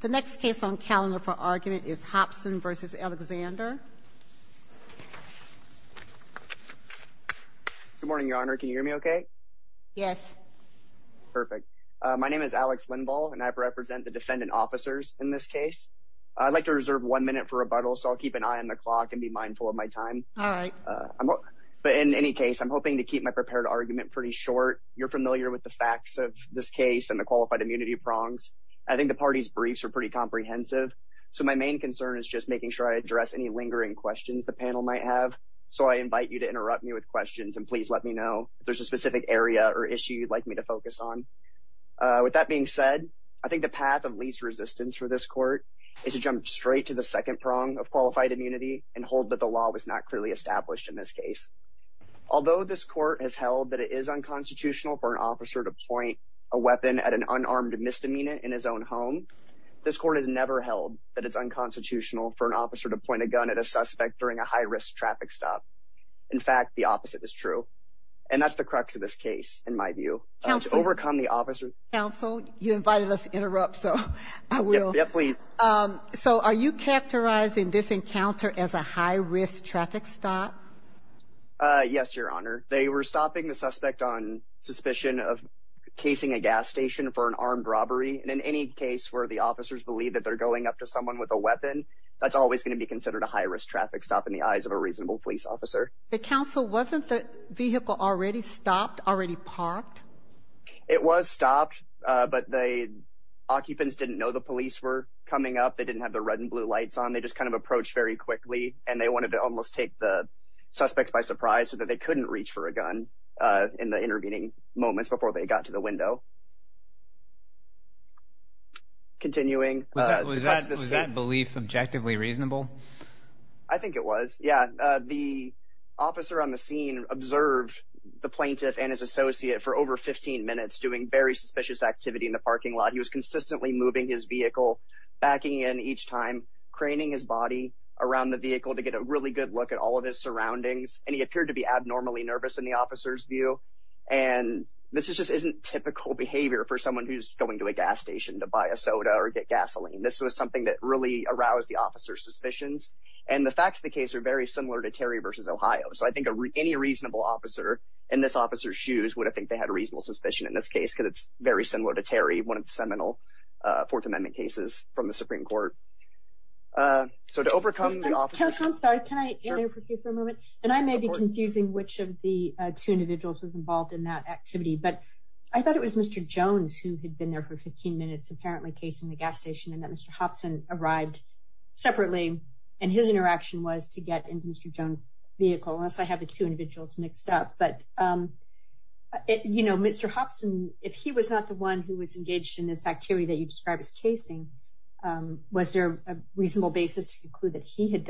The next case on calendar for argument is Hopson v. Alexander. Good morning, Your Honor. Can you hear me okay? Yes. Perfect. My name is Alex Lindvall and I represent the defendant officers in this case. I'd like to reserve one minute for rebuttal, so I'll keep an eye on the clock and be mindful of my time. All right. But in any case, I'm hoping to keep my prepared argument pretty short. You're familiar with the facts of this case and the comprehensive. So my main concern is just making sure I address any lingering questions the panel might have. So I invite you to interrupt me with questions and please let me know if there's a specific area or issue you'd like me to focus on. With that being said, I think the path of least resistance for this court is to jump straight to the second prong of qualified immunity and hold that the law was not clearly established in this case. Although this court has held that it is unconstitutional for an officer to point a weapon at an unarmed misdemeanor in his own home, this court has never held that it's unconstitutional for an officer to point a gun at a suspect during a high-risk traffic stop. In fact, the opposite is true. And that's the crux of this case, in my view, to overcome the officer. Counsel, you invited us to interrupt, so I will. Yeah, please. So are you characterizing this encounter as a high-risk traffic stop? Yes, Your Honor. They were stopping the suspect on suspicion of casing a gas station for an armed robbery. And in any case where the officers believe that they're going up to someone with a weapon, that's always going to be considered a high-risk traffic stop in the eyes of a reasonable police officer. But, Counsel, wasn't the vehicle already stopped, already parked? It was stopped, but the occupants didn't know the police were coming up. They didn't have the red and blue lights on. They just kind of approached very quickly, and they wanted to almost take the suspect by surprise so that they couldn't reach for a gun in the intervening moments before they got to the window. Continuing. Was that belief objectively reasonable? I think it was, yeah. The officer on the scene observed the plaintiff and his associate for over 15 minutes doing very suspicious activity in the parking lot. He was consistently moving his vehicle, backing in each time, craning his body around the vehicle to get a really good look at all of his surroundings. And he appeared to be abnormally nervous in the officer's view. And this just isn't typical behavior for someone who's going to a gas station to buy a soda or get gasoline. This was something that really aroused the officer's suspicions. And the facts of the case are very similar to Terry v. Ohio. So I think any reasonable officer in this officer's shoes would have think they had a reasonable suspicion in this case because it's very similar to Terry, one of the seminal Fourth Amendment cases from the Supreme Court. So to overcome the officer's... Counselor, I'm sorry. Can I interrupt you for a moment? And I may be confusing which of the two individuals was involved in that activity. But I thought it was Mr. Jones who had been there for 15 minutes apparently casing the gas station and that Mr. Hobson arrived separately and his interaction was to get into Mr. Jones' vehicle. Unless I have the two individuals mixed up. But, you know, Mr. Hobson, if he was not the one who was engaged in this activity that you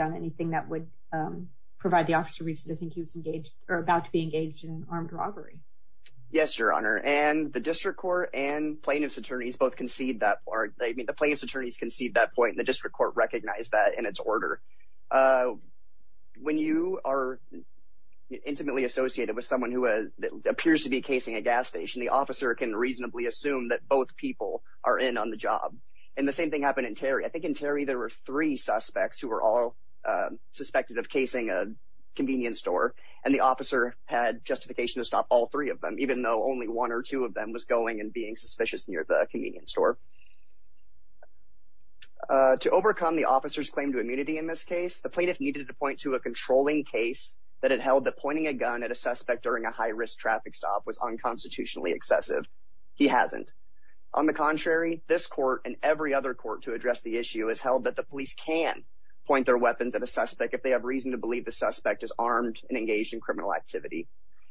anything that would provide the officer reason to think he was engaged or about to be engaged in an armed robbery? Yes, Your Honor. And the district court and plaintiff's attorneys both concede that or I mean the plaintiff's attorneys concede that point and the district court recognized that in its order. When you are intimately associated with someone who appears to be casing a gas station, the officer can reasonably assume that both people are in on the job. And the same thing happened in Terry. I think in Terry there were three suspects who were all suspected of casing a convenience store and the officer had justification to stop all three of them, even though only one or two of them was going and being suspicious near the convenience store. To overcome the officer's claim to immunity in this case, the plaintiff needed to point to a controlling case that it held that pointing a gun at a suspect during a high-risk traffic stop was unconstitutionally excessive. He hasn't. On the contrary, this court and every other court to address the issue has held that the police can point their weapons at a suspect if they have reason to believe the suspect is armed and engaged in criminal activity.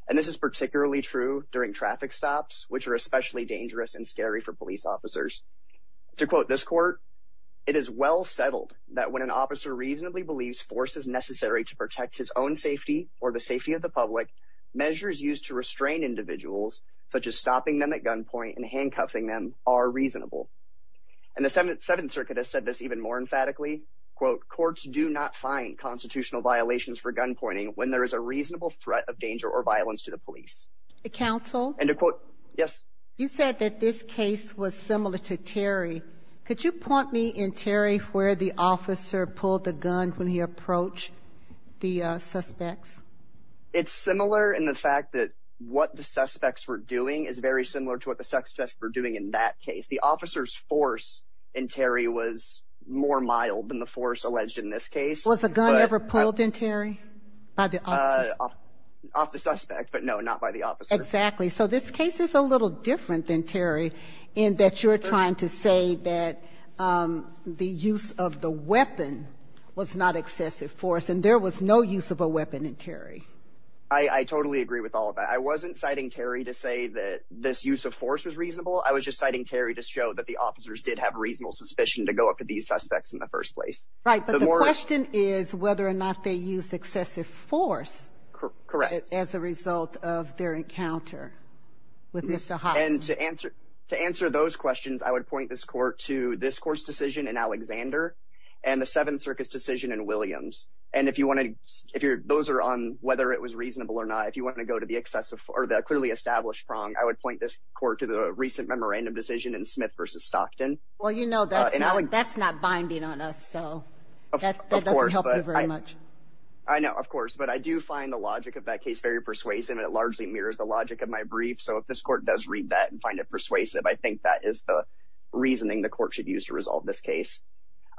And this is particularly true during traffic stops, which are especially dangerous and scary for police officers. To quote this court, it is well settled that when an officer reasonably believes force is necessary to protect his own safety or the safety of the public, measures used to restrain individuals, such as stopping them at gunpoint and handcuffing them, are reasonable. And the Seventh Circuit has said this even more emphatically, quote, courts do not find constitutional violations for gunpointing when there is a reasonable threat of danger or violence to the police. Counsel? And to quote, yes. You said that this case was similar to Terry. Could you point me in Terry where the officer pulled the gun when he approached the suspects? It's very similar to what the suspects were doing in that case. The officer's force in Terry was more mild than the force alleged in this case. Was a gun ever pulled in Terry by the off the suspect? But no, not by the officer. Exactly. So this case is a little different than Terry in that you're trying to say that the use of the weapon was not excessive force and there was no use of a weapon in Terry. I totally agree with all of that. I wasn't citing Terry to say that this use of force was reasonable. I was just citing Terry to show that the officers did have reasonable suspicion to go up to these suspects in the first place. Right. But the question is whether or not they used excessive force. Correct. As a result of their encounter with Mr. Haas. And to answer to answer those questions, I would point this court to this decision in Alexander and the 7th Circus decision in Williams. And if you want to, if you're those are on whether it was reasonable or not, if you want to go to the excessive or the clearly established prong, I would point this court to the recent memorandum decision in Smith versus Stockton. Well, you know, that's not that's not binding on us. So of course, but I know, of course, but I do find the logic of that case very persuasive and it largely mirrors the logic of my brief. So if this court does read that and find it persuasive, I think that is the reasoning the court should use to resolve this case.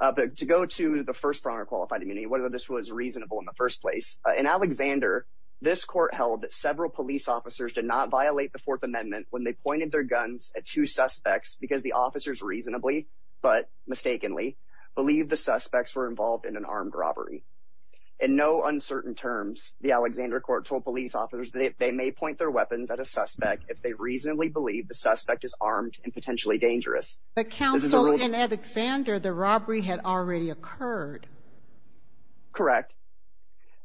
But to go to the first pronger qualified immunity, whether this was reasonable in the first place in Alexander, this court held that several police officers did not violate the Fourth Amendment when they pointed their guns at two suspects because the officers reasonably but mistakenly believe the suspects were involved in an armed robbery. In no uncertain terms, the Alexander court told police officers that they may point their weapons at a suspect if they reasonably believe the suspect is armed and potentially dangerous. But counsel in Alexander, the robbery had already occurred. Correct.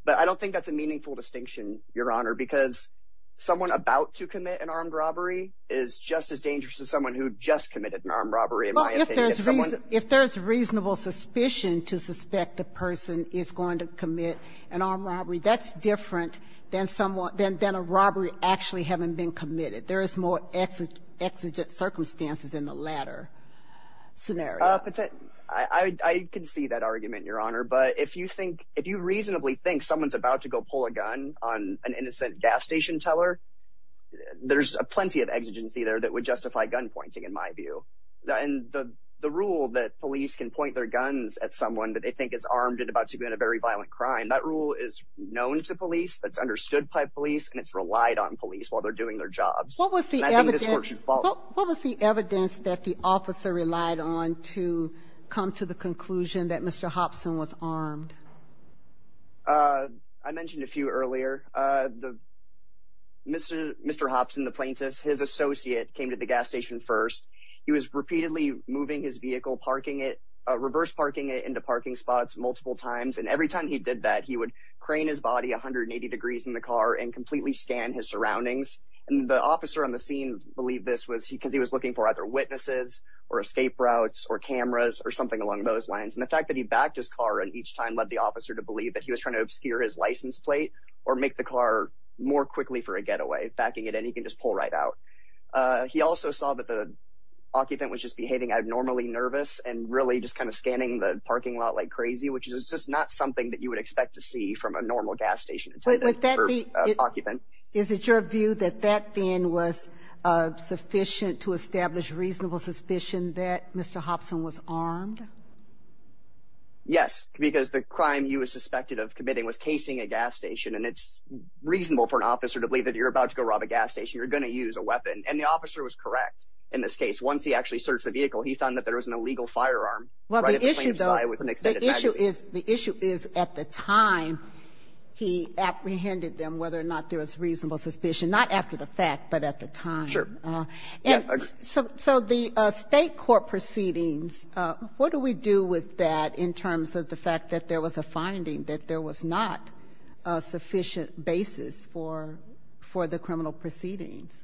But I don't think that's a meaningful distinction, Your Honor, because someone about to commit an armed robbery is just as dangerous as someone who just committed an armed robbery. If there is reasonable suspicion to suspect the person is going to commit an armed robbery, that's different than someone than than a robbery actually haven't been committed. There is more exigent circumstances in the latter scenario. I can see that argument, Your Honor. But if you think if you reasonably think someone's about to go pull a gun on an innocent gas station teller, there's plenty of exigency there that would justify gun pointing, in my view. And the rule that police can point their guns at someone that they think is armed and about to commit a very violent crime, that rule is known to police. That's understood by and it's relied on police while they're doing their jobs. What was the evidence that the officer relied on to come to the conclusion that Mr. Hobson was armed? I mentioned a few earlier. Mr. Hobson, the plaintiff's his associate, came to the gas station first. He was repeatedly moving his vehicle, parking it, reverse parking it into parking spots multiple times. And every his surroundings. And the officer on the scene believed this was because he was looking for either witnesses or escape routes or cameras or something along those lines. And the fact that he backed his car and each time led the officer to believe that he was trying to obscure his license plate or make the car more quickly for a getaway, backing it and he can just pull right out. He also saw that the occupant was just behaving abnormally nervous and really just kind of scanning the parking lot like crazy, which is just not something that you would expect to see from a normal gas station. Is it your view that that then was sufficient to establish reasonable suspicion that Mr. Hobson was armed? Yes, because the crime he was suspected of committing was casing a gas station. And it's reasonable for an officer to believe that you're about to go rob a gas station, you're going to use a weapon. And the officer was correct. In this case, once he actually searched the vehicle, he found that there was an illegal firearm. Well, the issue is the issue is at the time he apprehended them, whether or not there was reasonable suspicion, not after the fact, but at the time. So the state court proceedings, what do we do with that in terms of the fact that there was a finding that there was not a sufficient basis for for the criminal proceedings?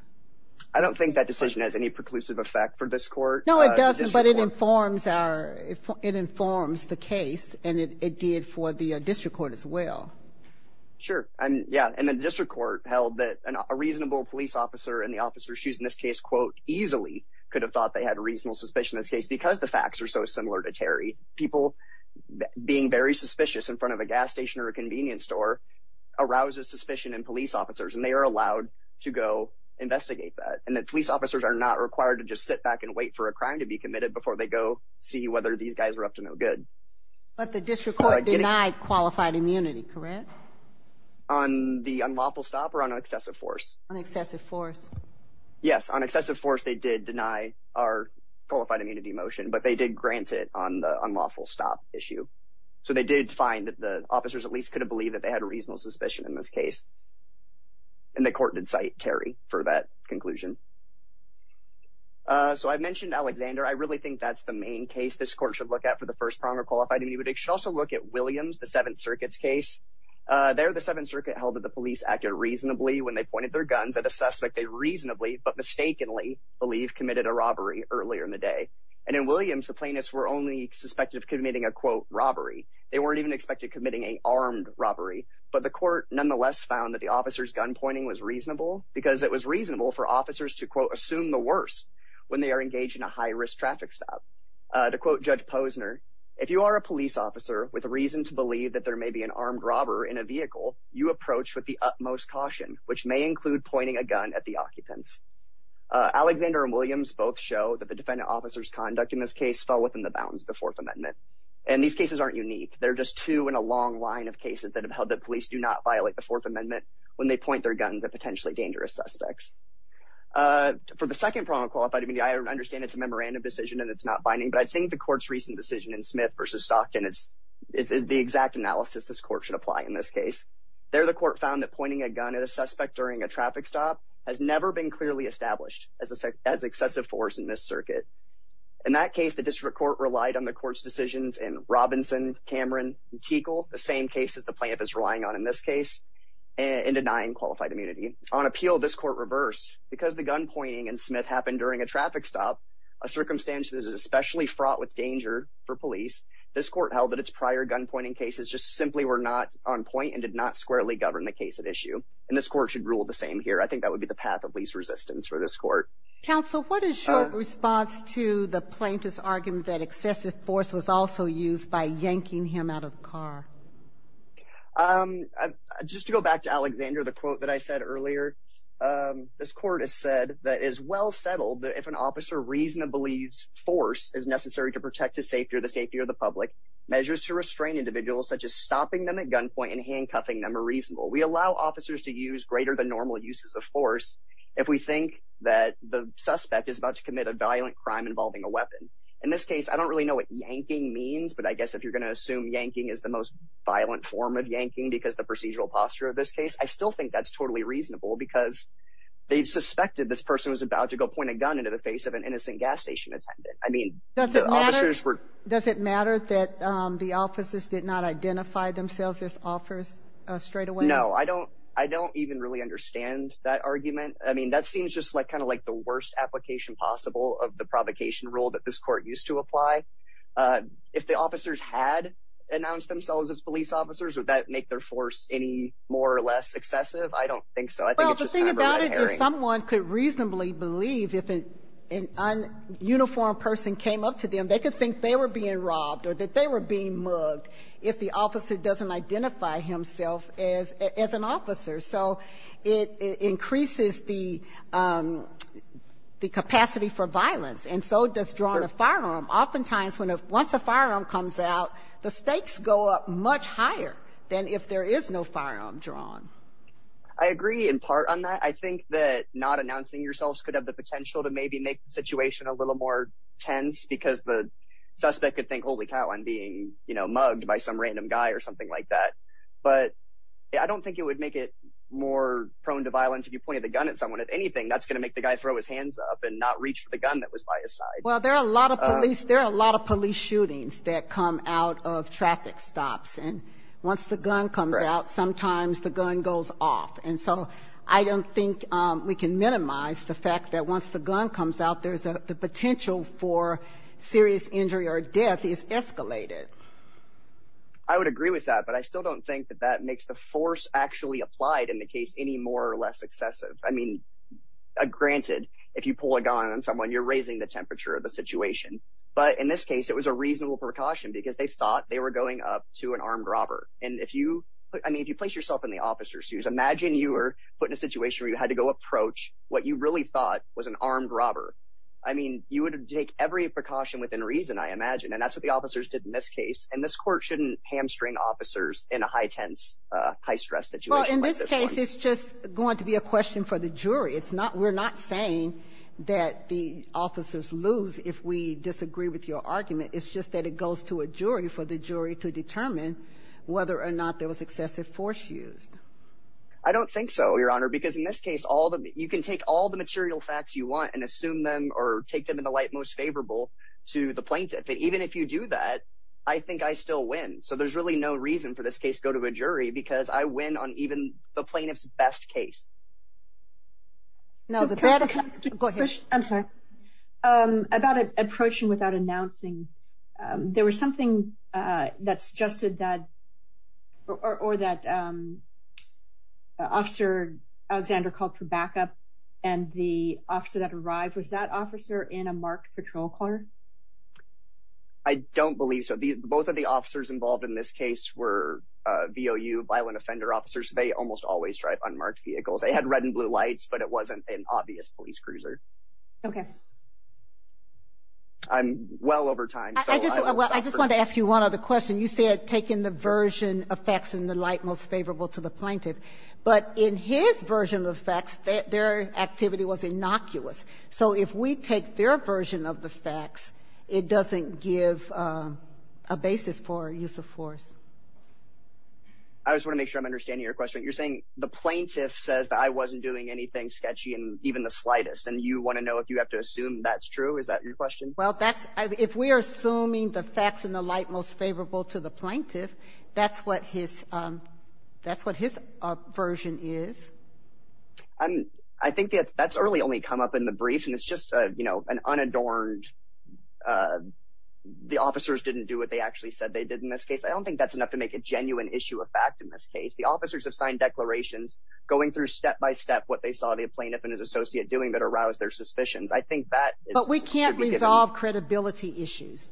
I don't think that decision has any preclusive effect for this court. No, it doesn't. But it informs our it informs the case. And it did for the district court as well. Sure. Yeah. And the district court held that a reasonable police officer and the officer shoes in this case, quote, easily could have thought they had a reasonable suspicion in this case because the facts are so similar to Terry people being very suspicious in front of a gas station or a convenience store arouses suspicion in police officers. And they are allowed to go investigate that. And that police officers are not required to just sit back and wait for a crime to be committed before they go see whether these guys are up to no good. But the district court denied qualified immunity, correct? On the unlawful stop or on excessive force? On excessive force. Yes. On excessive force, they did deny our qualified immunity motion, but they did grant it on the unlawful stop issue. So they did find that the officers at least could have believed that they had a reasonable suspicion in this case. And the court did cite Terry for that conclusion. So I mentioned Alexander. I really think that's the main case this court should look at for the first pronger qualified immunity. But it should also look at Williams, the Seventh Circuit's case there. The Seventh Circuit held that the police acted reasonably when they pointed their guns at a suspect. They reasonably but mistakenly believe committed a robbery earlier in the day. And in Williams, the plaintiffs were only suspected of committing a, quote, robbery. They weren't even expected committing a armed robbery. But the court nonetheless found that the officer's gun pointing was reasonable because it was reasonable for officers to, quote, assume the worst when they are engaged in a high-risk traffic stop. To quote Judge Posner, if you are a police officer with a reason to believe that there may be an armed robber in a vehicle, you approach with the utmost caution, which may include pointing a gun at the occupants. Alexander and Williams both show that the defendant officer's conduct in this case fell within the bounds of the Fourth Amendment. And these cases aren't unique. They're just two in a long line of cases that have held that police do not violate the Fourth Amendment when they point their guns at potentially dangerous suspects. For the second pronger qualified immunity, I understand it's a memorandum decision and it's not binding. But I think the court's recent decision in Smith v. Stockton is the exact analysis this court should apply in this case. There, the court found that pointing a gun at a suspect during a traffic stop has never been clearly established as excessive force in this in Robinson, Cameron, and Tiegel, the same cases the plaintiff is relying on in this case in denying qualified immunity. On appeal, this court reversed. Because the gunpointing in Smith happened during a traffic stop, a circumstance that is especially fraught with danger for police, this court held that its prior gunpointing cases just simply were not on point and did not squarely govern the case at issue. And this court should rule the same here. I think that would be the path of least resistance for this court. Counsel, what is your response to the plaintiff's argument that excessive force was also used by yanking him out of the car? Just to go back to Alexander, the quote that I said earlier, this court has said that it is well settled that if an officer reasonably believes force is necessary to protect the safety or the safety of the public, measures to restrain individuals such as stopping them at gunpoint and handcuffing them are reasonable. We allow officers to use greater than normal uses of force if we think that the suspect is about to commit a violent crime involving a weapon. In this case, I don't really know what yanking means, but I guess if you're going to assume yanking is the most violent form of yanking because the procedural posture of this case, I still think that's totally reasonable because they suspected this person was about to go point a gun into the face of an innocent gas station attendant. I mean, the officers were... Does it matter that the officers did not identify themselves as officers straight away? No, I don't even really understand that argument. I mean, that seems just like kind of like the used to apply. If the officers had announced themselves as police officers, would that make their force any more or less excessive? I don't think so. Well, the thing about it is someone could reasonably believe if an uniformed person came up to them, they could think they were being robbed or that they were being mugged if the officer doesn't identify himself as an officer. So it increases the oftentimes when once a firearm comes out, the stakes go up much higher than if there is no firearm drawn. I agree in part on that. I think that not announcing yourselves could have the potential to maybe make the situation a little more tense because the suspect could think, holy cow, I'm being mugged by some random guy or something like that. But I don't think it would make it more prone to violence. If you pointed the gun at someone at anything, that's going to make the guy throw his hands up and not reach for the gun that was by his side. Well, there are a lot of police. There are a lot of police shootings that come out of traffic stops. And once the gun comes out, sometimes the gun goes off. And so I don't think we can minimize the fact that once the gun comes out, there's the potential for serious injury or death is escalated. I would agree with that, but I still don't think that that makes the force actually applied in the case any more or less excessive. I mean, granted, if you pull a gun on someone, you're raising the temperature of the situation. But in this case, it was a reasonable precaution because they thought they were going up to an armed robber. And if you place yourself in the officer's shoes, imagine you were put in a situation where you had to go approach what you really thought was an armed robber. I mean, you would take every precaution within reason, I imagine. And that's what the officers did in this case. And this court shouldn't hamstring officers in a high-tense, high-stress situation. In this case, it's just going to be a question for the jury. We're not saying that the officers lose if we disagree with your argument. It's just that it goes to a jury for the jury to determine whether or not there was excessive force used. I don't think so, Your Honor, because in this case, you can take all the material facts you want and assume them or take them in the light most favorable to the plaintiff. But even if you do that, I think I still win. So there's really no reason for this case to go to a jury because I win on even the plaintiff's best case. Now, the better... Go ahead. I'm sorry. About approaching without announcing, there was something that suggested that, or that Officer Alexander called for backup and the officer that arrived was that officer in a marked patrol car? I don't believe so. Both of the officers involved in this case were violent offender officers. They almost always drive unmarked vehicles. They had red and blue lights, but it wasn't an obvious police cruiser. Okay. I'm well over time. I just wanted to ask you one other question. You said taking the version of facts in the light most favorable to the plaintiff, but in his version of the facts, their activity was innocuous. So if we take their version of the facts, it doesn't give a basis for use of force. I just want to make sure I'm understanding your question. You're saying the plaintiff says that I wasn't doing anything sketchy and even the slightest, and you want to know if you have to assume that's true? Is that your question? Well, if we are assuming the facts in the light most favorable to the plaintiff, that's what his version is. I think that's really only come up in the briefs and it's just an unadorned... The officers didn't do what they actually said they did in this case. I don't think that's enough to make a genuine issue of fact in this case. The officers have signed declarations going through step by step what they saw the plaintiff and his associate doing that aroused their suspicions. I think that... But we can't resolve credibility issues.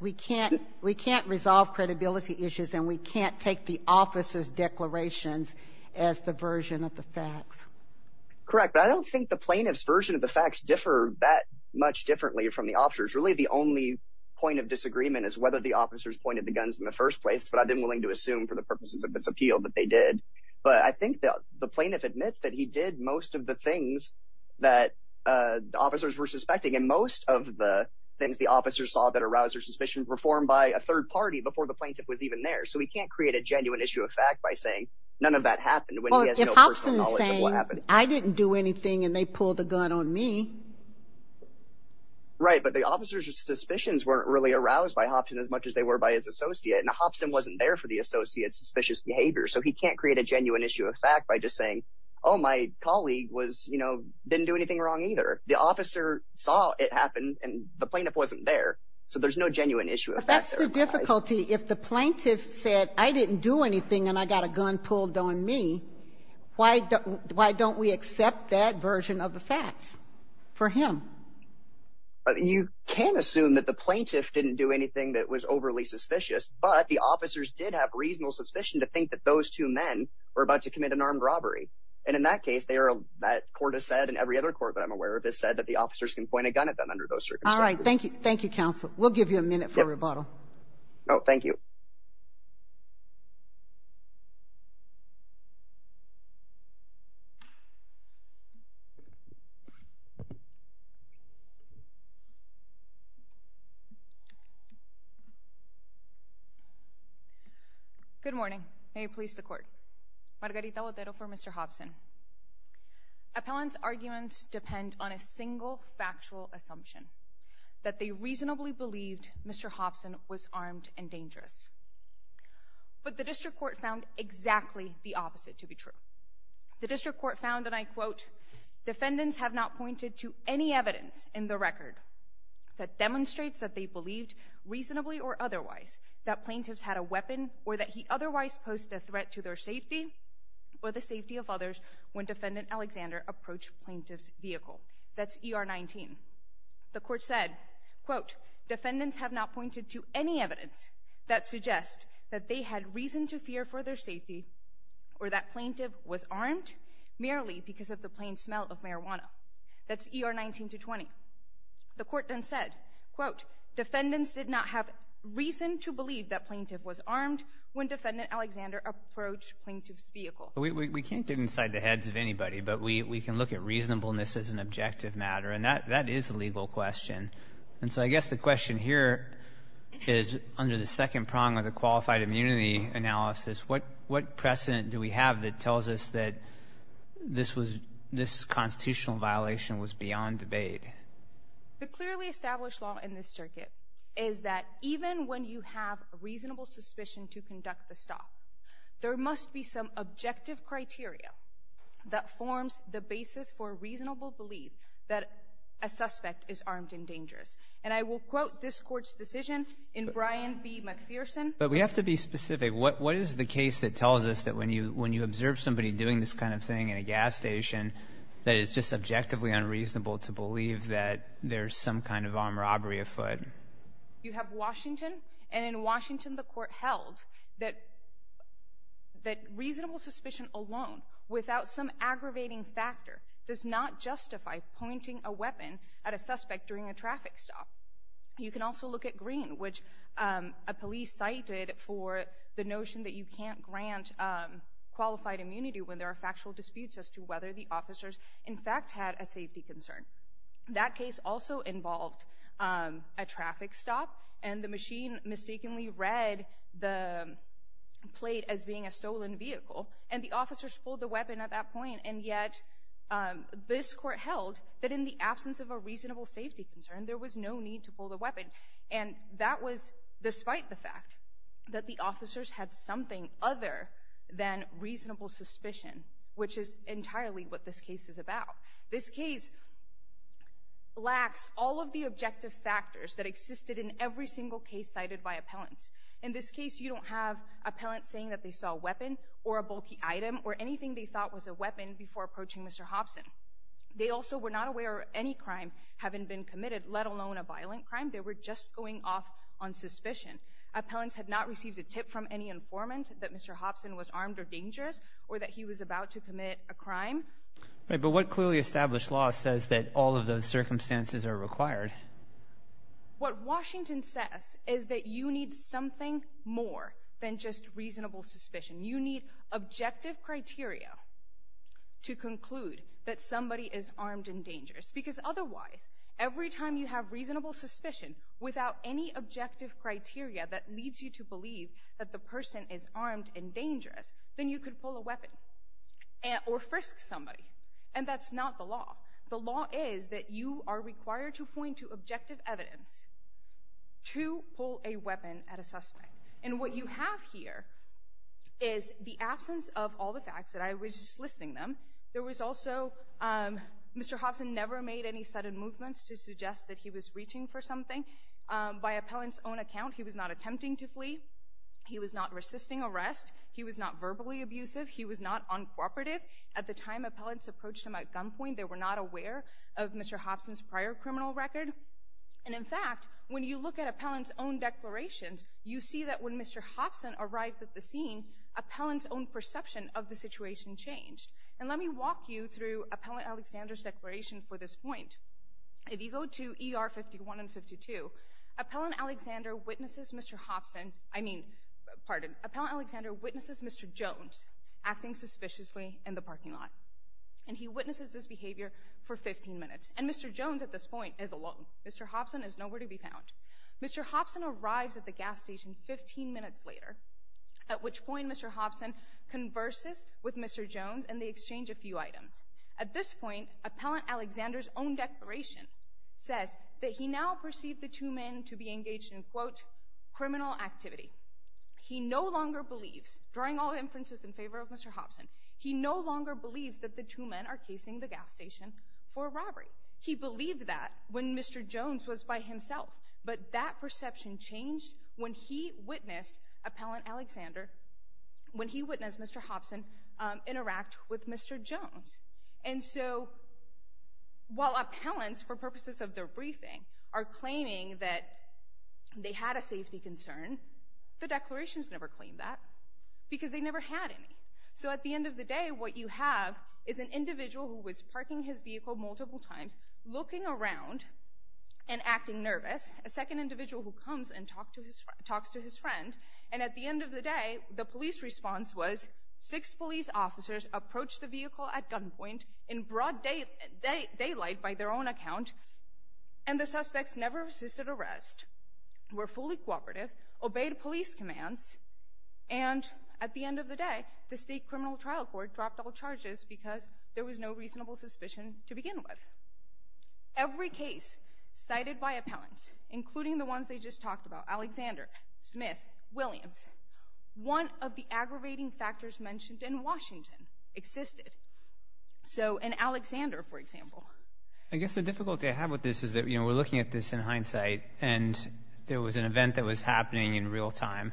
We can't resolve credibility issues and we can't take the officer's declarations as the version of the facts. Correct, but I don't think the plaintiff's version of the facts differ that much differently from the officers. Really, the only point of disagreement is whether the officers pointed the guns in the first place, but I've been willing to assume for the purposes of this appeal that they did. But I think that the plaintiff admits that he did most of the things that the officers were suspecting and most of the things the officers saw that aroused their suspicions were formed by a third party before the plaintiff was even there. So we can't create a genuine issue of fact by saying none of that happened when he has no personal knowledge of what happened. I didn't do anything and they pulled the gun on me. Right, but the officers' suspicions weren't really aroused by Hobson as much as they were by his associate. Now, Hobson wasn't there for the associate's suspicious behavior, so he can't create a genuine issue of fact by just saying, oh, my colleague was, you know, didn't do anything wrong either. The officer saw it happen and the plaintiff wasn't there, so there's no genuine issue of fact. That's the difficulty. If the plaintiff said, I didn't do anything and I got a gun pulled on me, why don't we accept that version of the facts for him? You can assume that the plaintiff didn't do anything that was overly suspicious, but the officers did have reasonable suspicion to think that those two men were about to commit an armed robbery. And in that case, they are, that court has said and every other court that I'm aware of has said that the officers can point a gun at them under those circumstances. All right, thank you. Thank you, counsel. We'll give you a minute for rebuttal. Oh, thank you. Good morning. May it please the court. Margarita Lodero for Mr. Hobson. Appellant's arguments depend on a single factual assumption, that they reasonably believed Mr. Hobson was armed and dangerous. But the district court found exactly the opposite to be true. The district court found, and I quote, defendants have not pointed to any evidence in the record that demonstrates that they believed, reasonably or otherwise, that plaintiffs had a weapon or that he otherwise posed a threat to their safety or the safety of others when defendant Alexander approached plaintiff's vehicle. That's ER 19. The court said, quote, defendants have not pointed to any evidence that suggests that they had reason to fear for their safety or that plaintiff was armed merely because of the plain smell of marijuana. That's ER 19 to 20. The court then said, quote, defendants did not have reason to believe that plaintiff was armed when defendant Alexander approached plaintiff's vehicle. We can't get inside the heads of anybody, but we can look at reasonableness as an objective matter, and that is a legal question. And so I guess the question here is, under the second prong of the qualified immunity analysis, what precedent do we have that tells us that this was, this constitutional violation was beyond debate? The clearly established law in this circuit is that even when you have a reasonable suspicion to conduct the stop, there must be some objective criteria that forms the basis for a reasonable belief that a suspect is armed and dangerous. And I will quote this court's decision in Brian B. McPherson. But we have to be specific. What is the case that tells us that when you observe somebody doing this kind of thing in a gas station, that it's just objectively unreasonable to believe that there's some kind of armed robbery afoot? You have Washington, and in Washington the court held that reasonable suspicion alone, without some aggravating factor, does not justify pointing a weapon at a suspect during a traffic stop. You can also look at Greene, which a police cited for the notion that you can't grant qualified immunity when there are factual disputes as to whether the officers, in fact, had a safety concern. That case also involved a traffic stop, and the machine mistakenly read the plate as being a stolen vehicle, and the officers pulled the weapon at that point, and yet this court held that in the absence of a reasonable safety concern, there was no need to pull the weapon. And that was despite the fact that the officers had something other than reasonable suspicion, which is entirely what this case is about. This case lacks all of the objective factors that existed in every single case cited by appellants. In this case, you don't have appellants saying that they saw a weapon or a bulky item or anything they thought was a weapon before approaching Mr. Hobson. They also were not aware of any crime having been committed, let alone a violent crime. They were just going off on suspicion. Appellants had not received a tip from any informant that Mr. Hobson was armed or dangerous, or that he was about to commit a crime. Right, but what clearly established law says that all of those circumstances are required? What Washington says is that you need something more than just reasonable suspicion. You need objective criteria to conclude that somebody is armed and dangerous, because otherwise, every time you have reasonable suspicion without any objective criteria that leads you to believe that the person is armed and dangerous, then you could pull a weapon or frisk somebody, and that's not the law. The law is that you are required to point to objective evidence to pull a weapon at a suspect, and what you have here is the absence of all the facts that I was listing them. There was also Mr. Hobson never made any sudden movements to suggest that he was reaching for something. By appellants' own account, he was not attempting to flee. He was not resisting arrest. He was not verbally abusive. He was not uncooperative. At the time appellants approached him at gunpoint, they were not aware of Mr. Hobson's prior criminal record, and in fact, you look at appellants' own declarations, you see that when Mr. Hobson arrived at the scene, appellants' own perception of the situation changed, and let me walk you through Appellant Alexander's declaration for this point. If you go to ER 51 and 52, Appellant Alexander witnesses Mr. Hobson, I mean, pardon, Appellant Alexander witnesses Mr. Jones acting suspiciously in the parking lot, and he witnesses this behavior for 15 minutes, and Mr. Jones at this point is Mr. Hobson is nowhere to be found. Mr. Hobson arrives at the gas station 15 minutes later, at which point Mr. Hobson converses with Mr. Jones and they exchange a few items. At this point, Appellant Alexander's own declaration says that he now perceived the two men to be engaged in, quote, criminal activity. He no longer believes, drawing all inferences in favor of Mr. Hobson, he no longer believes that the two men are casing the gas station for robbery. He believed that when Mr. Jones was by himself, but that perception changed when he witnessed Appellant Alexander, when he witnessed Mr. Hobson interact with Mr. Jones, and so while appellants, for purposes of their briefing, are claiming that they had a safety concern, the declarations never claim that because they never had any. So at the end of the day, what you have is an individual who was parking his vehicle multiple times, looking around and acting nervous, a second individual who comes and talks to his friend, and at the end of the day, the police response was six police officers approached the vehicle at gunpoint in broad daylight by their own account, and the suspects never assisted arrest, were fully cooperative, obeyed police commands, and at the end of the day, the state criminal trial court dropped all charges because there was no reasonable suspicion to begin with. Every case cited by appellants, including the ones they just talked about, Alexander, Smith, Williams, one of the aggravating factors mentioned in Washington existed. So an Alexander, for example. I guess the difficulty I have with this is that, you know, we're looking at this in hindsight and there was an event that was happening in real time,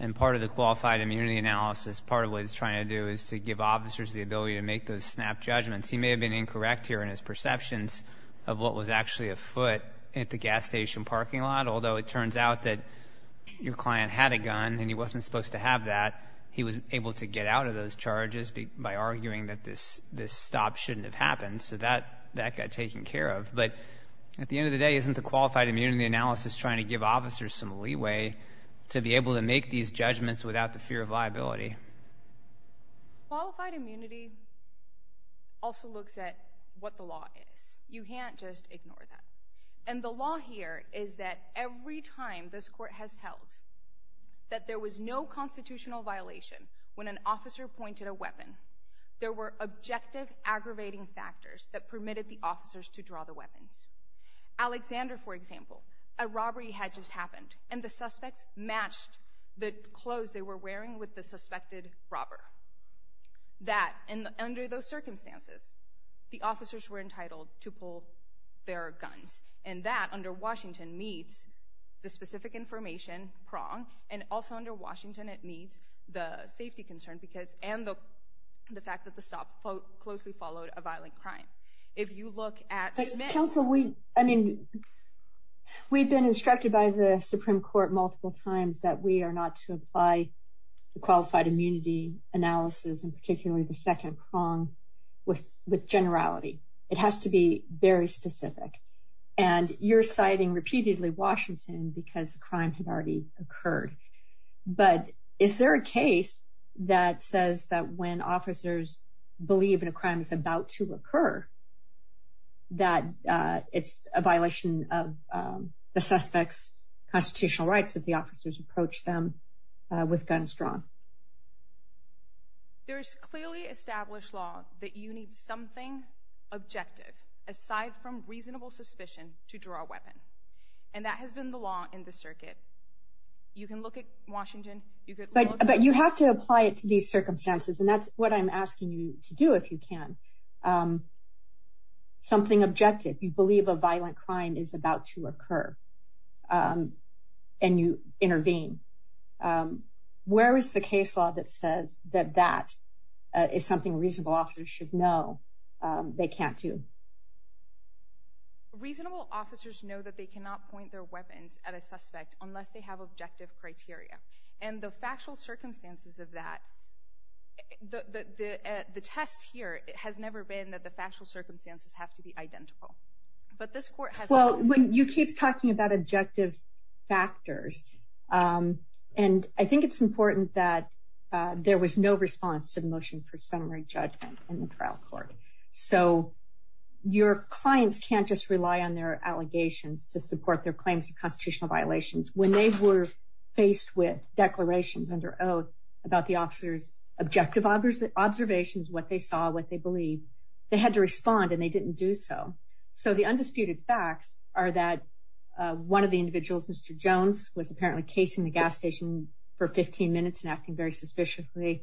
and part of the qualified immunity analysis, part of what he's trying to do is to give officers the ability to make those snap judgments. He may have been incorrect here in his perceptions of what was actually afoot at the gas station parking lot, although it turns out that your client had a gun and he wasn't supposed to have that, he was able to get out of those charges by arguing that this stop shouldn't have happened, so that got taken care of. But at the end of the day, isn't the qualified immunity analysis trying to give officers some leeway to be able to make these judgments without the fear of liability? Qualified immunity also looks at what the law is. You can't just ignore that. And the law here is that every time this court has held that there was no constitutional violation when an officer pointed a weapon, there were objective aggravating factors that permitted the officers to draw the gun. And the suspects matched the clothes they were wearing with the suspected robber. That, and under those circumstances, the officers were entitled to pull their guns. And that, under Washington, meets the specific information prong, and also under Washington it meets the safety concern because, and the fact that the stop closely followed a violent crime. If you look at... But counsel, we, I mean, we've been instructed by the Supreme Court multiple times that we are not to apply the qualified immunity analysis, and particularly the second prong, with generality. It has to be very specific. And you're citing repeatedly Washington because the crime had already occurred. But is there a case that says that when officers believe in a crime that's to occur, that it's a violation of the suspect's constitutional rights if the officers approach them with guns drawn? There's clearly established law that you need something objective, aside from reasonable suspicion, to draw a weapon. And that has been the law in the circuit. You can look at Washington. But you have to apply it to these circumstances. And that's what I'm asking you to do if you can. Something objective, you believe a violent crime is about to occur, and you intervene. Where is the case law that says that that is something reasonable officers should know they can't do? Reasonable officers know that they cannot point their weapons at a suspect unless they have objective criteria. And the factual circumstances of that, the test here has never been that the factual circumstances have to be identical. But this court has... Well, when you keep talking about objective factors, and I think it's important that there was no response to the motion for summary judgment in the trial court. So your clients can't just rely on their allegations to support their claims of constitutional violations. When they were faced with declarations under oath about the officer's objective observations, what they saw, what they believed, they had to respond, and they didn't do so. So the undisputed facts are that one of the individuals, Mr. Jones, was apparently casing the gas station for 15 minutes and acting very suspiciously.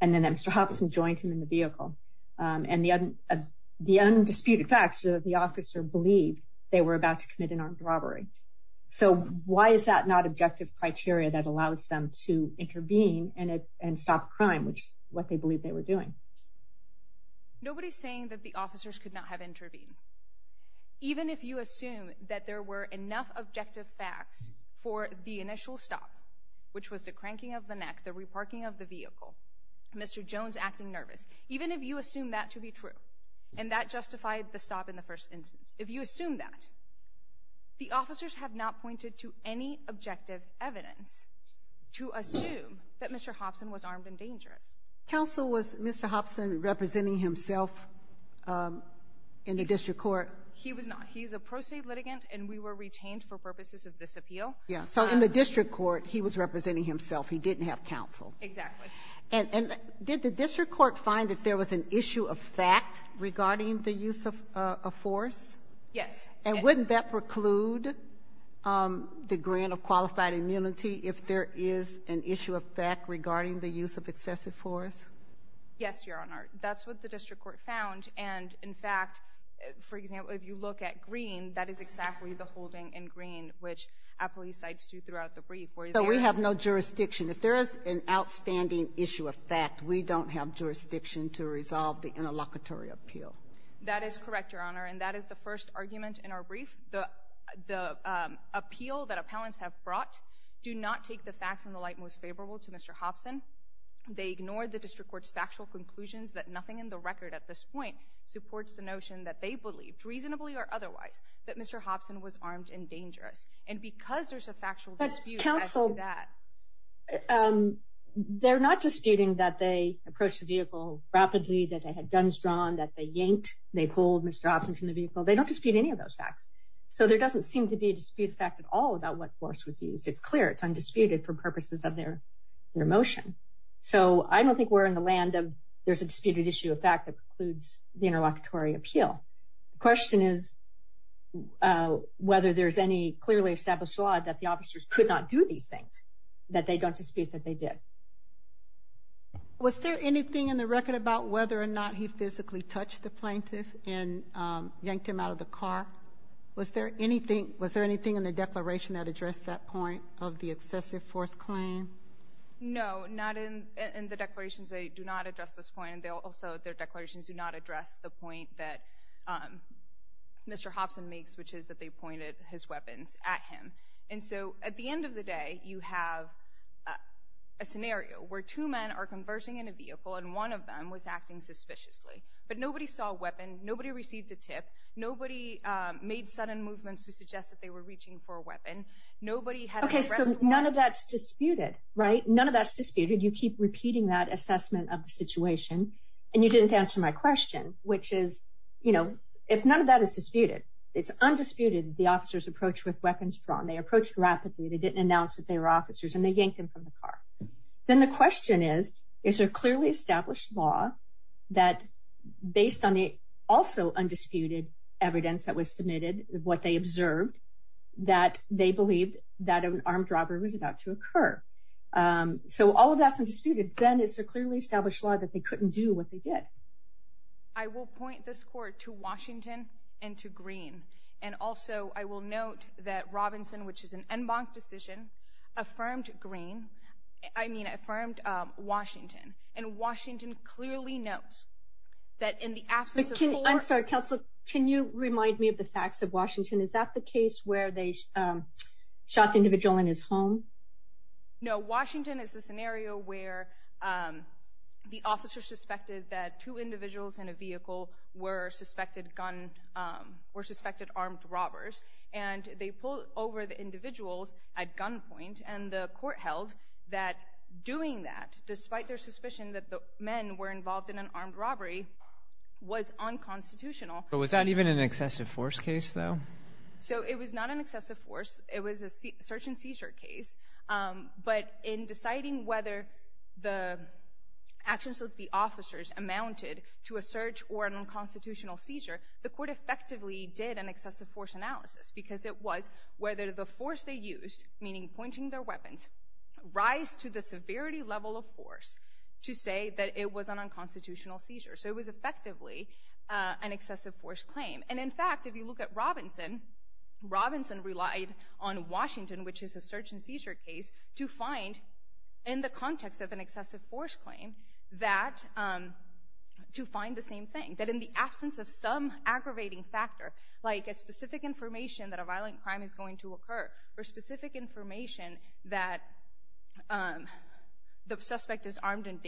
And then Mr. Hobson joined him in the vehicle. And the undisputed facts are that the officer believed they were about to commit an armed robbery. So why is that not objective criteria that allows them to intervene and stop a crime, which is what they believed they were doing? Nobody's saying that the officers could not have intervened. Even if you assume that there were enough objective facts for the initial stop, which was the cranking of the neck, the reparking of the vehicle, Mr. Jones acting nervous, even if you assume that to be true, and that justified the stop in the first instance, if you assume that, the officers have not pointed to any objective evidence to assume that Mr. Hobson was armed and dangerous. Counsel, was Mr. Hobson representing himself in the district court? He was not. He's a pro se litigant, and we were retained for purposes of this appeal. Yeah. So in the district court, he was representing himself. He didn't have counsel. Exactly. And did the district court find that there was an issue of fact regarding the use of force? Yes. And wouldn't that preclude the grant of qualified immunity if there is an issue of fact regarding the use of excessive force? Yes, Your Honor. That's what the district court found. And in fact, for example, if you look at Green, that is exactly the holding in Green, which our police sites do throughout the brief. So we have no jurisdiction. If there is an outstanding issue of fact, we don't have jurisdiction to resolve the interlocutory appeal. That is correct, Your Honor. And that is the first argument in our brief. The appeal that appellants have brought do not take the facts in the light most favorable to Mr. Hobson. They ignore the district court's factual conclusions that nothing in the record at this point supports the notion that they believed, reasonably or otherwise, that Mr. Hobson was armed and dangerous. And because there's a factual dispute as to that... But, counsel, they're not disputing that they approached the vehicle rapidly, that they had they pulled Mr. Hobson from the vehicle. They don't dispute any of those facts. So there doesn't seem to be a dispute of fact at all about what force was used. It's clear. It's undisputed for purposes of their motion. So I don't think we're in the land of there's a disputed issue of fact that precludes the interlocutory appeal. The question is whether there's any clearly established law that the officers could not do these things that they don't dispute that they did. Was there anything in the record about whether or not he physically touched the plaintiff and yanked him out of the car? Was there anything in the declaration that addressed that point of the excessive force claim? No, not in the declarations. They do not address this point. Also, their declarations do not address the point that Mr. Hobson makes, which is that they pointed his weapons at him. And so at the end of the day, you have a scenario where two men are converging in a vehicle and one of them was acting suspiciously. But nobody saw a weapon. Nobody received a tip. Nobody made sudden movements to suggest that they were reaching for a weapon. Okay, so none of that's disputed, right? None of that's disputed. You keep repeating that assessment of the situation and you didn't answer my question, which is, you know, if none of that is disputed, it's undisputed that the officers approached with weapons drawn. They approached rapidly. They didn't announce that they were officers and they yanked him from the car. Then the question is, is there clearly established law that, based on the also undisputed evidence that was submitted, what they observed, that they believed that an armed robbery was about to occur? So all of that's undisputed. Then it's a clearly established law that they couldn't do what they did. I will point this court to Washington and to Greene. And also, I will note that Robinson, which is an en banc decision, affirmed Greene. I mean, affirmed Washington. And Washington clearly notes that in the absence of court- I'm sorry, counsel, can you remind me of the facts of Washington? Is that the case where they shot the individual in his home? No, Washington is a scenario where the officer suspected that two individuals in a vehicle were suspected armed robbers. And they pulled over the individuals at gunpoint and the court held that doing that, despite their suspicion that the men were involved in an armed robbery, was unconstitutional. But was that even an excessive force case, though? So it was not an excessive force. It was a search and seizure case. But in deciding whether the actions of the officers amounted to a search or an unconstitutional seizure, the court effectively did an excessive force analysis. Because it was whether the force they used, meaning pointing their weapons, rise to the severity level of force to say that it was an unconstitutional seizure. So it was effectively an excessive force claim. And in fact, if you look at Robinson, Robinson relied on Washington, which is a search and seizure case, to find, in the context of an excessive force claim, that- to find the same thing. That in the absence of some aggravating factor, like a specific information that a violent crime is going to occur, or specific information that the suspect is armed and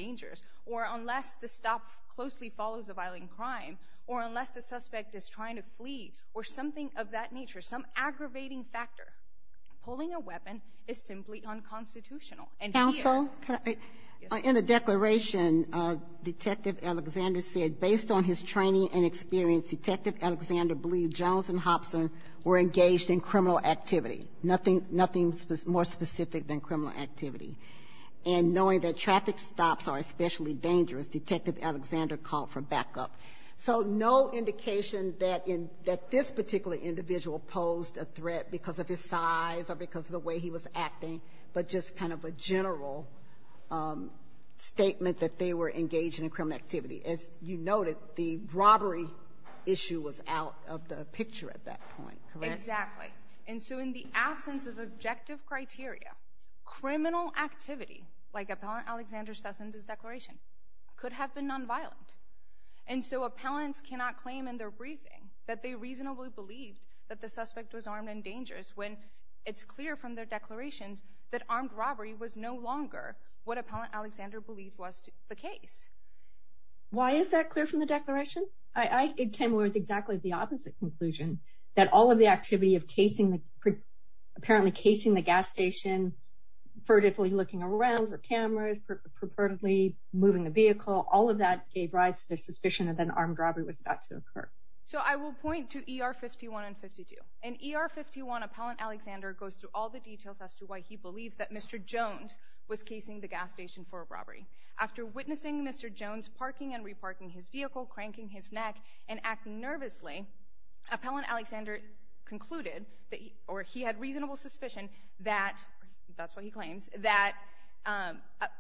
trying to flee, or something of that nature, some aggravating factor, pulling a weapon is simply unconstitutional. And here- Counsel, in the declaration, Detective Alexander said, based on his training and experience, Detective Alexander believed Jones and Hobson were engaged in criminal activity, nothing more specific than criminal activity. And knowing that traffic stops are especially dangerous, Detective Alexander called for backup. So no indication that in- that this particular individual posed a threat because of his size or because of the way he was acting, but just kind of a general statement that they were engaged in a criminal activity. As you noted, the robbery issue was out of the picture at that point, correct? Exactly. And so in the absence of objective criteria, criminal activity, like Appellant Alexander says in this declaration, could have been non-violent. And so appellants cannot claim in their briefing that they reasonably believed that the suspect was armed and dangerous, when it's clear from their declarations that armed robbery was no longer what Appellant Alexander believed was the case. Why is that clear from the declaration? I came with exactly the opposite conclusion, that all of the activity of casing- apparently casing the gas station, vertically looking around for cameras, purportedly moving the vehicle, all of that gave rise to the suspicion that an armed robbery was about to occur. So I will point to ER 51 and 52. In ER 51, Appellant Alexander goes through all the details as to why he believes that Mr. Jones was casing the gas station for a robbery. After witnessing Mr. Jones parking and reparking his vehicle, cranking his neck, and acting nervously, Appellant Alexander concluded that he- or he had reasonable suspicion that- that's what he claims- that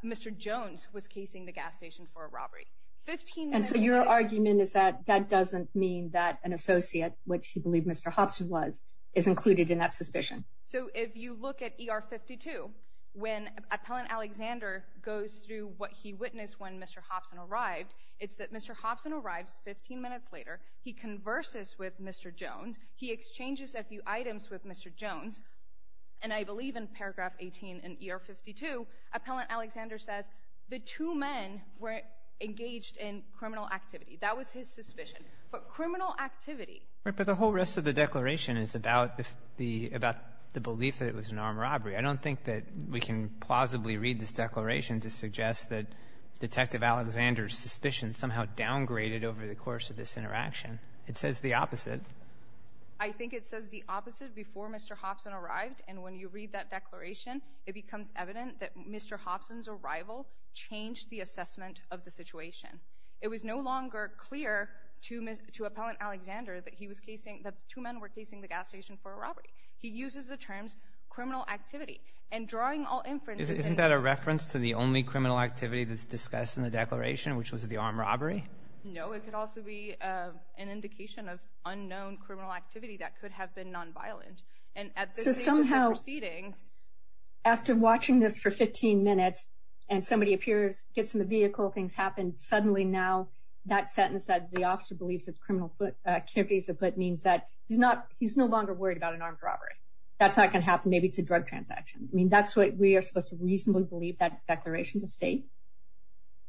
Mr. Jones was casing the gas station for a robbery. 15 minutes later- And so your argument is that that doesn't mean that an associate, which he believed Mr. Hobson was, is included in that suspicion? So if you look at ER 52, when Appellant Alexander goes through what he witnessed when Mr. Hobson arrived, it's that Mr. Hobson arrives 15 minutes later, he converses with Mr. Jones, he exchanges a few items with Mr. Jones, and I believe in paragraph 18 in ER 52, Appellant Alexander says the two men were engaged in criminal activity. That was his suspicion. But criminal activity- Right. But the whole rest of the declaration is about the belief that it was an armed robbery. I don't think that we can plausibly read this declaration to suggest that Detective Alexander's suspicion somehow downgraded over the course of this interaction. It says the opposite. I think it says the opposite before Mr. Hobson arrived, and when you read that declaration, it becomes evident that Mr. Hobson's arrival changed the assessment of the situation. It was no longer clear to Appellant Alexander that he was casing- that the two men were casing the gas station for a robbery. He uses the terms criminal activity. And drawing all inference- Isn't that a reference to the only criminal activity that's discussed in the declaration, which was the armed robbery? No, it could also be an indication of unknown criminal activity that could have been non-violent. And at this stage of the proceedings- So somehow, after watching this for 15 minutes, and somebody appears, gets in the vehicle, things happen, suddenly now that sentence that the officer believes it's criminal activities, but means that he's not- he's no longer worried about an armed robbery. That's not going to happen. Maybe it's a drug transaction. I mean, that's what we are supposed to reasonably believe that declaration to state.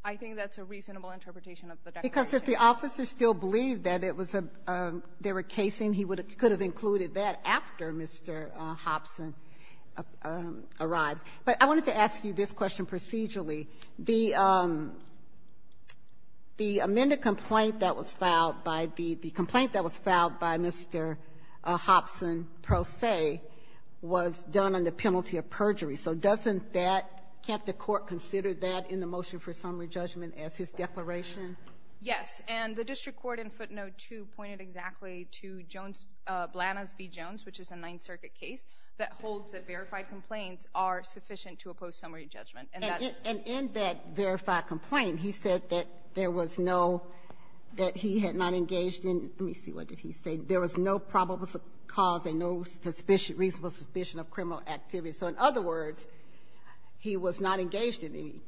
I think that's a reasonable interpretation of the declaration. Because if the officer still believed that it was a- they were casing, he would have- could have included that after Mr. Hobson arrived. But I wanted to ask you this question procedurally. The amended complaint that was filed by the- the complaint that was filed by Mr. Hobson pro se was done under penalty of perjury. So doesn't that- can't the court consider that in the motion for summary judgment as his declaration? Yes. And the district court in footnote 2 pointed exactly to Jones- Blanas v. Jones, which is a Ninth Circuit case, that holds that verified complaints are sufficient to oppose summary judgment. And that's- And in that verified complaint, he said that there was no- that he had not engaged in- let me see, what did he say? There was no probable cause and no suspicion- So in other words, he was not engaged in any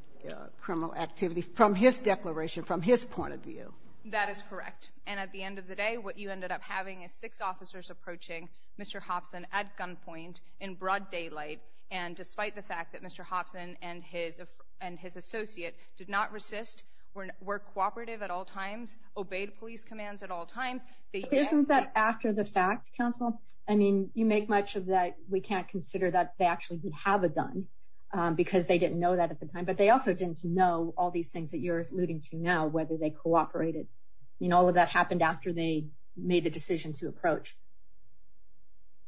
criminal activity from his declaration, from his point of view. That is correct. And at the end of the day, what you ended up having is six officers approaching Mr. Hobson at gunpoint, in broad daylight, and despite the fact that Mr. Hobson and his- and his associate did not resist, were cooperative at all times, obeyed police commands at all times- Isn't that after the fact, counsel? I mean, you make much of that we can't consider that they actually did have a gun, because they didn't know that at the time, but they also didn't know all these things that you're alluding to now, whether they cooperated. I mean, all of that happened after they made the decision to approach.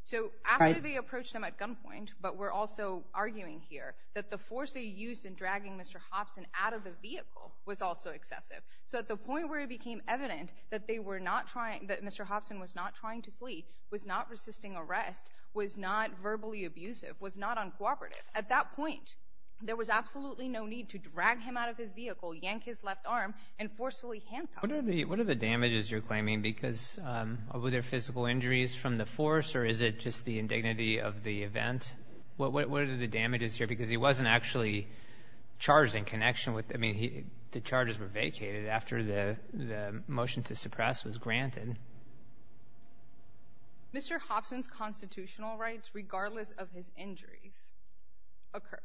So after they approached him at gunpoint, but we're also arguing here that the force they used in dragging Mr. Hobson out of the vehicle was also excessive. So at the point where it became evident that they were not trying- that Mr. Hobson was not trying to excessive, was not uncooperative, at that point, there was absolutely no need to drag him out of his vehicle, yank his left arm, and forcefully handcuff him. What are the- what are the damages you're claiming, because- were there physical injuries from the force, or is it just the indignity of the event? What are the damages here? Because he wasn't actually charged in connection with- I mean, he- the charges were vacated after the- the motion to suppress was granted. Mr. Hobson's constitutional rights, regardless of his injuries, occurred.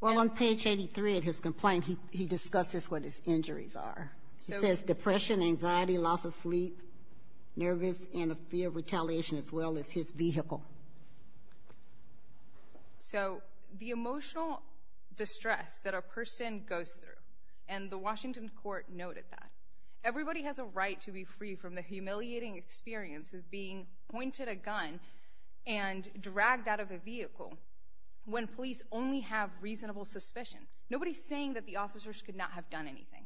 Well, on page 83 of his complaint, he discusses what his injuries are. He says depression, anxiety, loss of sleep, nervous, and a fear of retaliation, as well as his vehicle. So the emotional distress that a person goes through, and the Washington court noted that. Everybody has a right to be free from the humiliating experience of being pointed a gun and dragged out of a vehicle when police only have reasonable suspicion. Nobody's saying that the officers could not have done anything.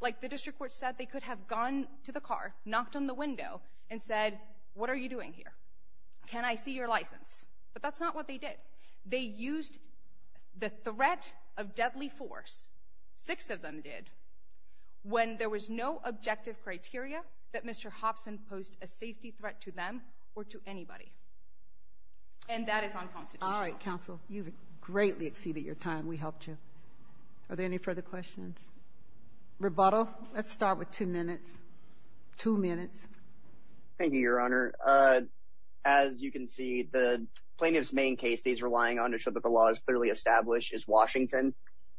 Like the district court said, they could have gone to the car, knocked on the window, and said, what are you doing here? Can I see your license? But that's not what they did. They used the threat of deadly force, six of them did, when there was no objective criteria that Mr. Hobson posed a safety threat to them or to anybody. And that is unconstitutional. All right, counsel. You've greatly exceeded your time. We helped you. Are there any further questions? Rebuttal? Let's start with two minutes. Two minutes. Thank you, Your Honor. As you can see, the plaintiff's main case that he's relying on to show that the law is clearly established is Washington.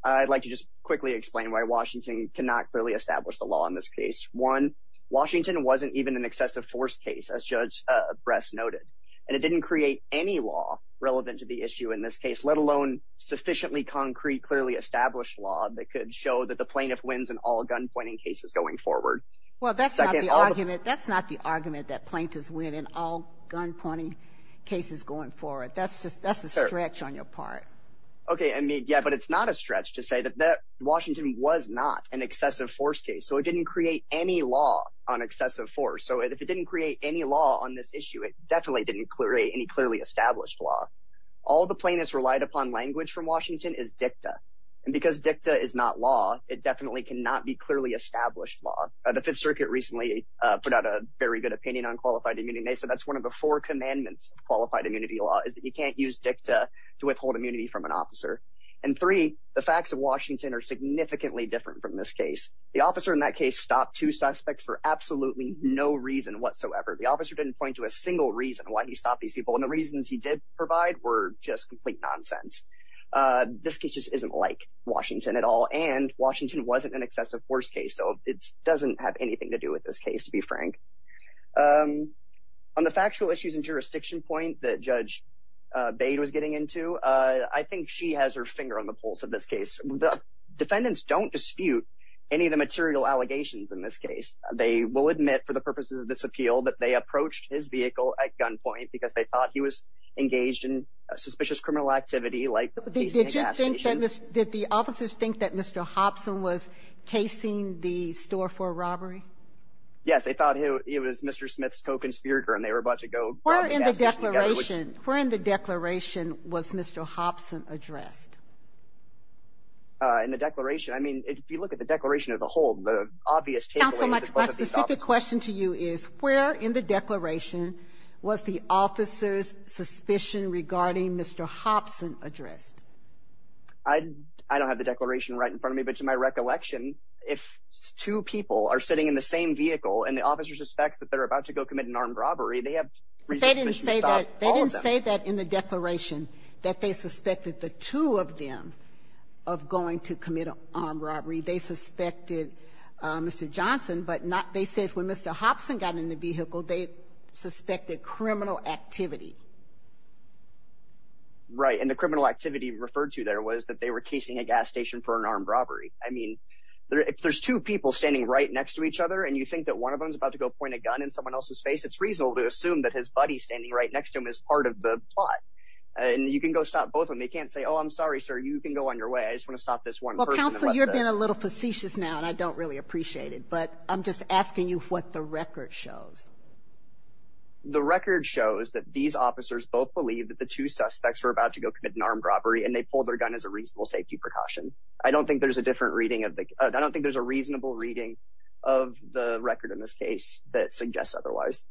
I'd like to just quickly explain why Washington cannot clearly establish the law in this case. One, Washington wasn't even an excessive force case, as Judge Bress noted. And it didn't create any law relevant to the issue in this case, let alone sufficiently concrete, clearly established law that could show that the plaintiff wins in all gunpointing cases going forward. Well, that's not the argument. That's not the argument that plaintiffs win in all gunpointing cases going forward. That's just, that's a stretch on your part. Okay, I mean, yeah, but it's not a stretch to say that Washington was not an excessive force case. So it didn't create any law on excessive force. So if it didn't create any law on this issue, it definitely didn't create any clearly established law. All the plaintiffs relied upon language from Washington is dicta. And because dicta is not law, it definitely cannot be clearly established law. The Fifth Circuit recently put out a very good opinion on qualified immunity. So that's one of the four commandments of qualified immunity law is that you can't use dicta to withhold immunity from an officer. And three, the facts of Washington are significantly different from this case. The officer in that case stopped two suspects for absolutely no reason whatsoever. The officer didn't point to a single reason why he stopped these people. And the reasons he did provide were just complete nonsense. This case just isn't like Washington at all. And Washington wasn't an excessive force case. So it doesn't have anything to do with this case, to be frank. On the factual issues and jurisdiction point that Judge Bade was getting into, I think she has her finger on the pulse of this case. The defendants don't dispute any of the material allegations in this case. They will admit for the purposes of this appeal that they approached his vehicle at gunpoint because they thought he was engaged in suspicious criminal activity like the police and the gas station. Did the officers think that Mr. Hobson was casing the store for a robbery? Yes, they thought he was Mr. Smith's co-conspirator and they were about to go grab the gas station together. Where in the declaration was Mr. Hobson addressed? In the declaration? I mean, if you look at the declaration as a whole, the obvious takeaways My specific question to you is, where in the declaration was the officer's suspicion regarding Mr. Hobson addressed? I don't have the declaration right in front of me, but to my recollection, if two people are sitting in the same vehicle, and the officer suspects that they're about to go commit an armed robbery, they have reasons to stop all of them. But they didn't say that in the declaration that they suspected the two of them of going to commit an armed robbery. They suspected Mr. Johnson, but they said when Mr. Hobson got in the vehicle, they suspected criminal activity. Right, and the criminal activity referred to there was that they were casing a gas station for an armed robbery. I mean, if there's two people standing right next to each other, and you think that one of them's about to go point a gun in someone else's face, it's reasonable to assume that his buddy standing right next to him is part of the plot. And you can go stop both of them. They can't say, oh, I'm sorry, sir, you can go on your way. I just want to stop this one person. Well, counsel, you're being a little facetious now, and I don't really appreciate it. But I'm just asking you what the record shows. The record shows that these officers both believe that the two suspects were about to go commit an armed robbery, and they pulled their gun as a reasonable safety precaution. I don't think there's a different reading of the—I don't think there's a reasonable reading of the record in this case that suggests otherwise.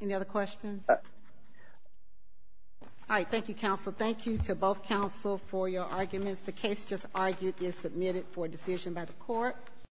Any other questions? All right, thank you, counsel. Thank you to both counsel for your arguments.